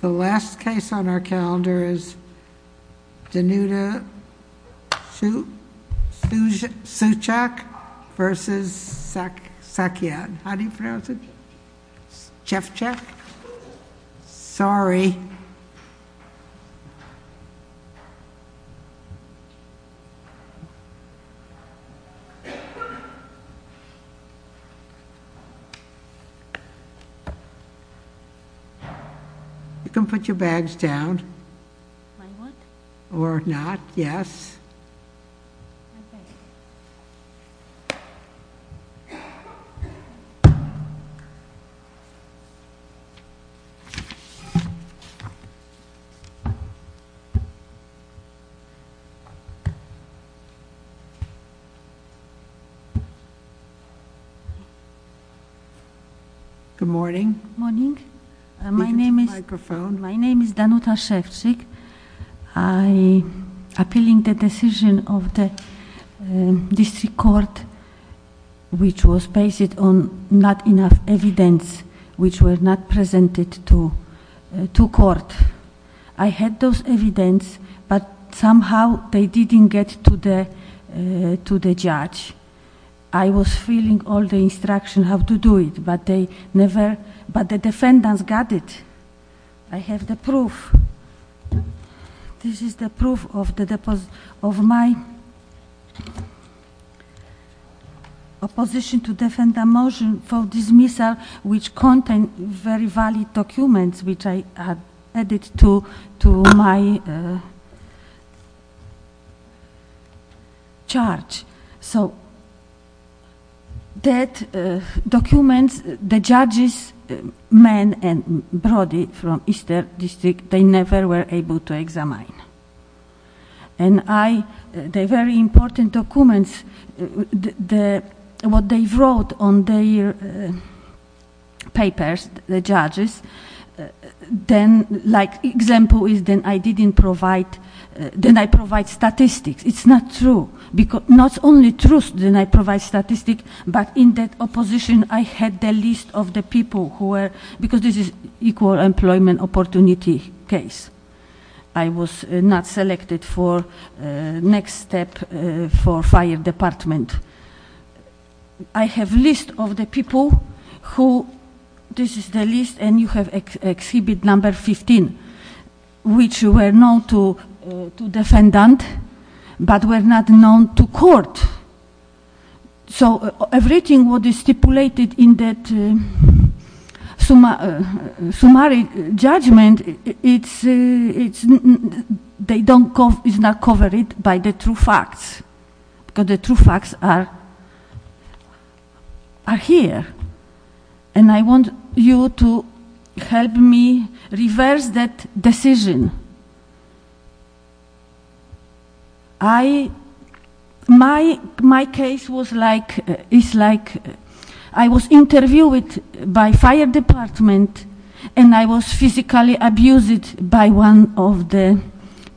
The last case on our calendar is Danuta Szewczyk v. Sakian. How do you pronounce it? Szewczyk? Sorry. You can put your bags down. My what? Or not, yes. OK. Good morning. Morning. My name is Danuta Szewczyk. I appealing the decision of the district court, which was based on not enough evidence, which were not presented to court. I had those evidence, but somehow they didn't get to the judge. I was feeling all the instruction how to do it, but the defendants got it. I have the proof. This is the proof of my opposition to defend the motion for dismissal, which contained very valid documents, which I added to my charge. So that document, the judges, men and body from Eastern District, they never were able to examine. And the very important documents, what they wrote on their papers, the judges, then like example is then I didn't provide, then I provide statistics. It's not true. Not only truth, then I provide statistics, but in that opposition I had the list of the people who were, because this is equal employment opportunity case. I was not selected for next step for fire department. I have list of the people who, this is the list, and you have exhibit number 15, which were known to defendant, but were not known to court. So everything what is stipulated in that summary judgment, is not covered by the true facts, because the true facts are here. And I want you to help me reverse that decision. My case was like, is like I was interviewed by fire department, and I was physically abused by one of the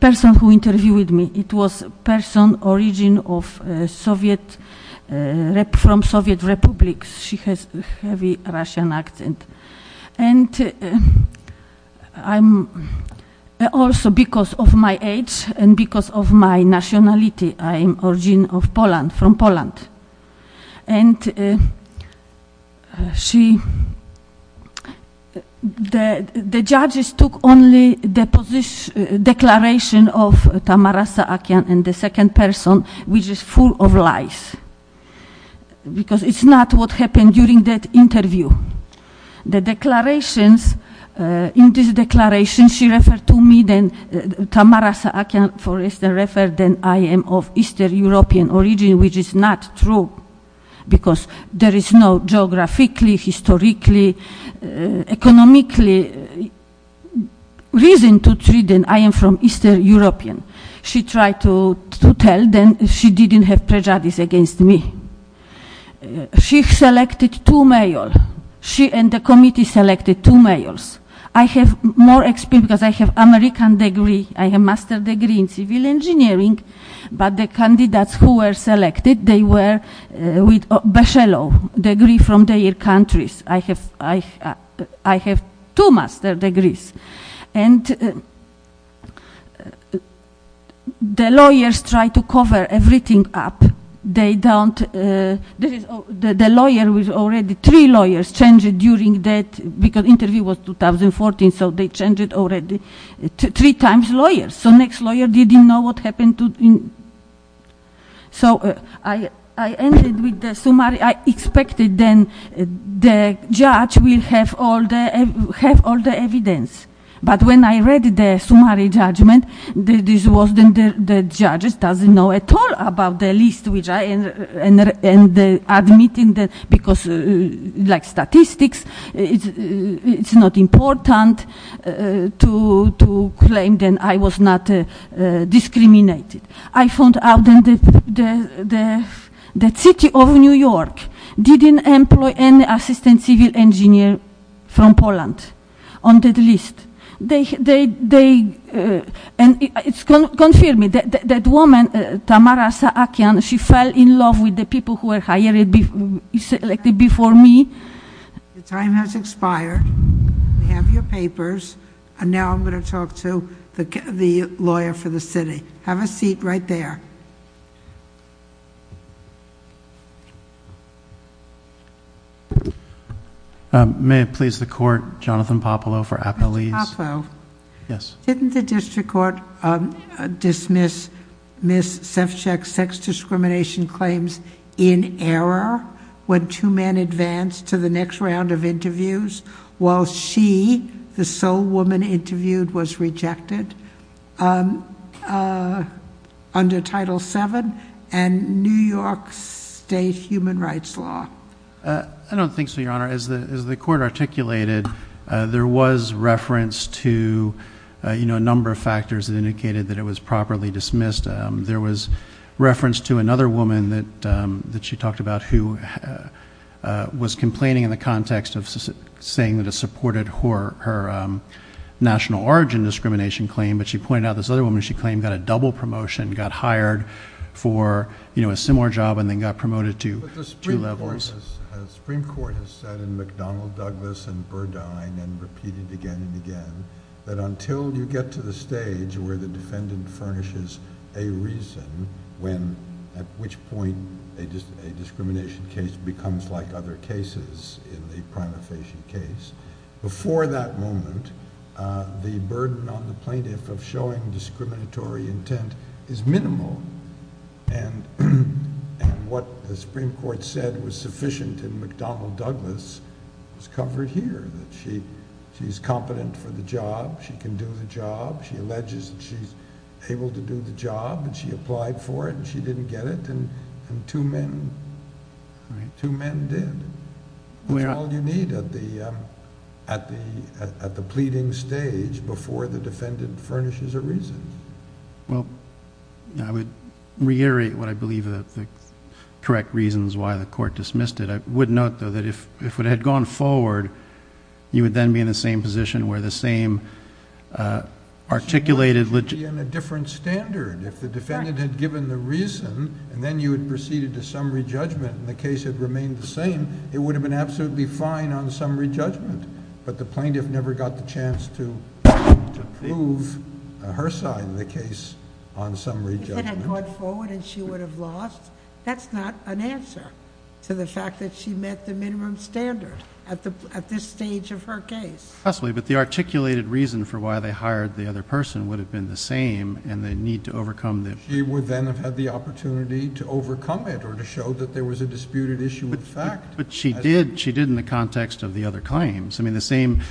person who interviewed me. It was person origin of Soviet, from Soviet Republic. She has heavy Russian accent. And I'm also, because of my age and because of my nationality, I'm origin of Poland, from Poland. And she, the judges took only the position, declaration of Tamara Saakian and the second person, which is full of lies, because it's not what happened during that interview. The declarations, in this declaration, she referred to me, Tamara Saakian for instance, referred that I am of Eastern European origin, which is not true, because there is no geographically, historically, economically reason to treat that I am from Eastern European. She tried to tell them she didn't have prejudice against me. She selected two male. She and the committee selected two males. I have more experience, because I have American degree. I have master degree in civil engineering. But the candidates who were selected, they were with bachelor degree from their countries. I have two master degrees. And the lawyers tried to cover everything up. They don't, the lawyer was already, three lawyers changed during that, because interview was 2014. So they changed it already, three times lawyers. So next lawyer didn't know what happened. So I ended with the summary. I expected then the judge will have all the evidence. But when I read the summary judgment, this was then the judge doesn't know at all about the list, which I ended up admitting, because like statistics, it's not important to claim that I was not discriminated. I found out that the city of New York didn't employ any assistant civil engineer from Poland on that list. And it's confirming that that woman, Tamara Saakian, she fell in love with the people who were selected before me. The time has expired. We have your papers. And now I'm going to talk to the lawyer for the city. Have a seat right there. May it please the court, Jonathan Popolo for Appalese. Mr. Popolo. Yes. Didn't the district court dismiss Miss Sefchak's sex discrimination claims in error when two men advanced to the next round of interviews, while she, the sole woman interviewed, was rejected under Title VII and New York State Human Rights Law? I don't think so, Your Honor. As the court articulated, there was reference to a number of factors that indicated that it was properly dismissed. There was reference to another woman that she talked about who was complaining in the context of saying that it supported her national origin discrimination claim. But she pointed out this other woman she claimed got a double promotion, got hired for a similar job, and then got promoted to two levels. The Supreme Court has said in McDonnell, Douglas, and Burdine, and repeated again and again, that until you get to the stage where the defendant furnishes a reason when, at which point, a discrimination case becomes like other cases in the prima facie case, before that moment, the burden on the plaintiff of showing discriminatory intent is minimal. And what the Supreme Court said was sufficient in McDonnell, Douglas, is covered here, that she's competent for the job. She can do the job. She alleges that she's able to do the job. And she applied for it, and she didn't get it. And two men did. That's all you need at the pleading stage before the defendant furnishes a reason. Well, I would reiterate what I believe are the correct reasons why the court dismissed it. I would note, though, that if it had gone forward, you would then be in the same position where the same articulated legitimacy... She might be in a different standard. If the defendant had given the reason, and then you had proceeded to summary judgment, and the case had remained the same, it would have been absolutely fine on summary judgment. But the plaintiff never got the chance to prove her side of the case on summary judgment. If it had gone forward and she would have lost, that's not an answer to the fact that she met the minimum standard at this stage of her case. Possibly, but the articulated reason for why they hired the other person would have been the same, and the need to overcome the... She would then have had the opportunity to overcome it, or to show that there was a disputed issue of fact. But she did in the context of the other claims. I mean, the same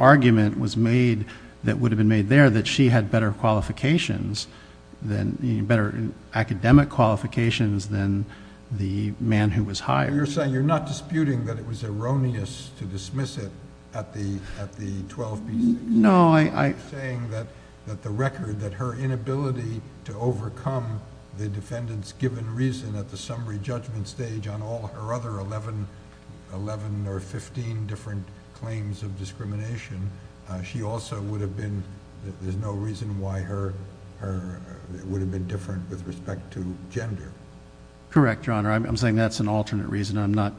argument was made that would have been made there, that she had better qualifications, better academic qualifications, than the man who was hired. You're saying you're not disputing that it was erroneous to dismiss it at the 12B6? No, I... You're saying that the record, that her inability to overcome the defendant's given reason at the summary judgment stage on all her other 11 or 15 different claims of discrimination, she also would have been, there's no reason why it would have been different with respect to gender. Correct, Your Honor. I'm saying that's an alternate reason. I'm not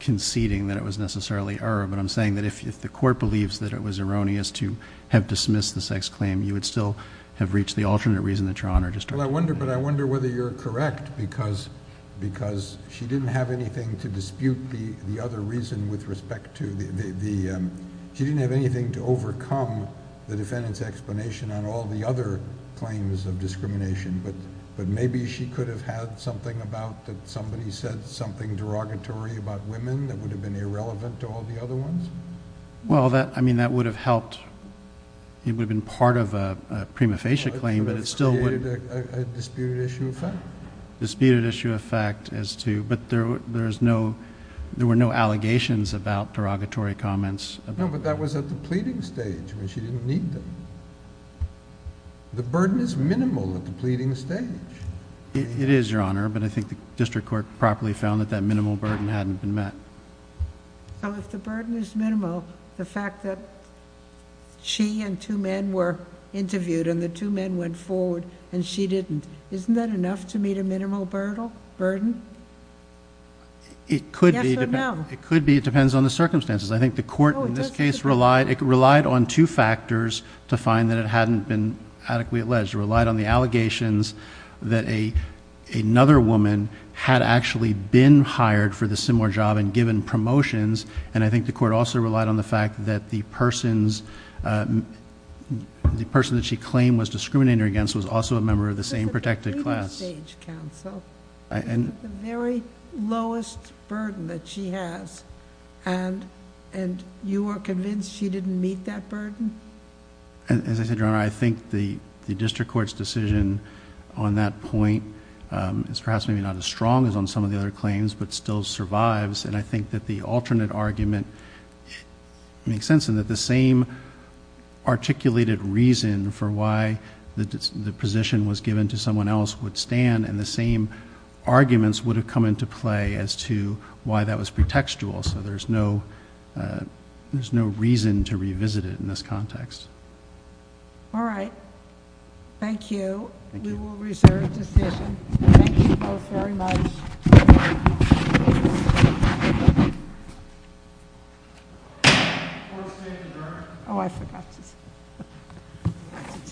conceding that it was necessarily error, but I'm saying that if the court believes that it was erroneous to have dismissed the sex claim, you would still have reached the alternate reason that Your Honor just talked about. Well, I wonder, but I wonder whether you're correct, because she didn't have anything to dispute the other reason with respect to the... She didn't have anything to overcome the defendant's explanation on all the other claims of discrimination, but maybe she could have had something about that somebody said something derogatory about women that would have been irrelevant to all the other ones? Well, I mean, that would have helped. It would have been part of a prima facie claim, but it still would... It would have created a disputed issue of fact. Disputed issue of fact as to, but there were no allegations about derogatory comments. No, but that was at the pleading stage when she didn't need them. The burden is minimal at the pleading stage. It is, Your Honor, but I think the district court properly found that that minimal burden hadn't been met. So if the burden is minimal, the fact that she and two men were interviewed and the two men went forward and she didn't, isn't that enough to meet a minimal burden? It could be. Yes or no? It could be. It depends on the circumstances. I think the court in this case relied on two factors to find that it hadn't been adequately alleged. It relied on the allegations that another woman had actually been hired for the similar job and given promotions, and I think the court also relied on the fact that the person that she claimed was discriminating her against was also a member of the same protected class. But it's at the pleading stage, counsel. The very lowest burden that she has, and you are convinced she didn't meet that burden? As I said, Your Honor, I think the district court's decision on that point is perhaps maybe not as strong as on some of the other claims, but still survives, and I think that the alternate argument makes sense in that the same articulated reason for why the position was given to someone else would stand and the same arguments would have come into play as to why that was pretextual, so there's no reason to revisit it in this context. All right, thank you. We will reserve decision. Thank you both very much. Thank you. Court is adjourned. Oh, I forgot to tell you.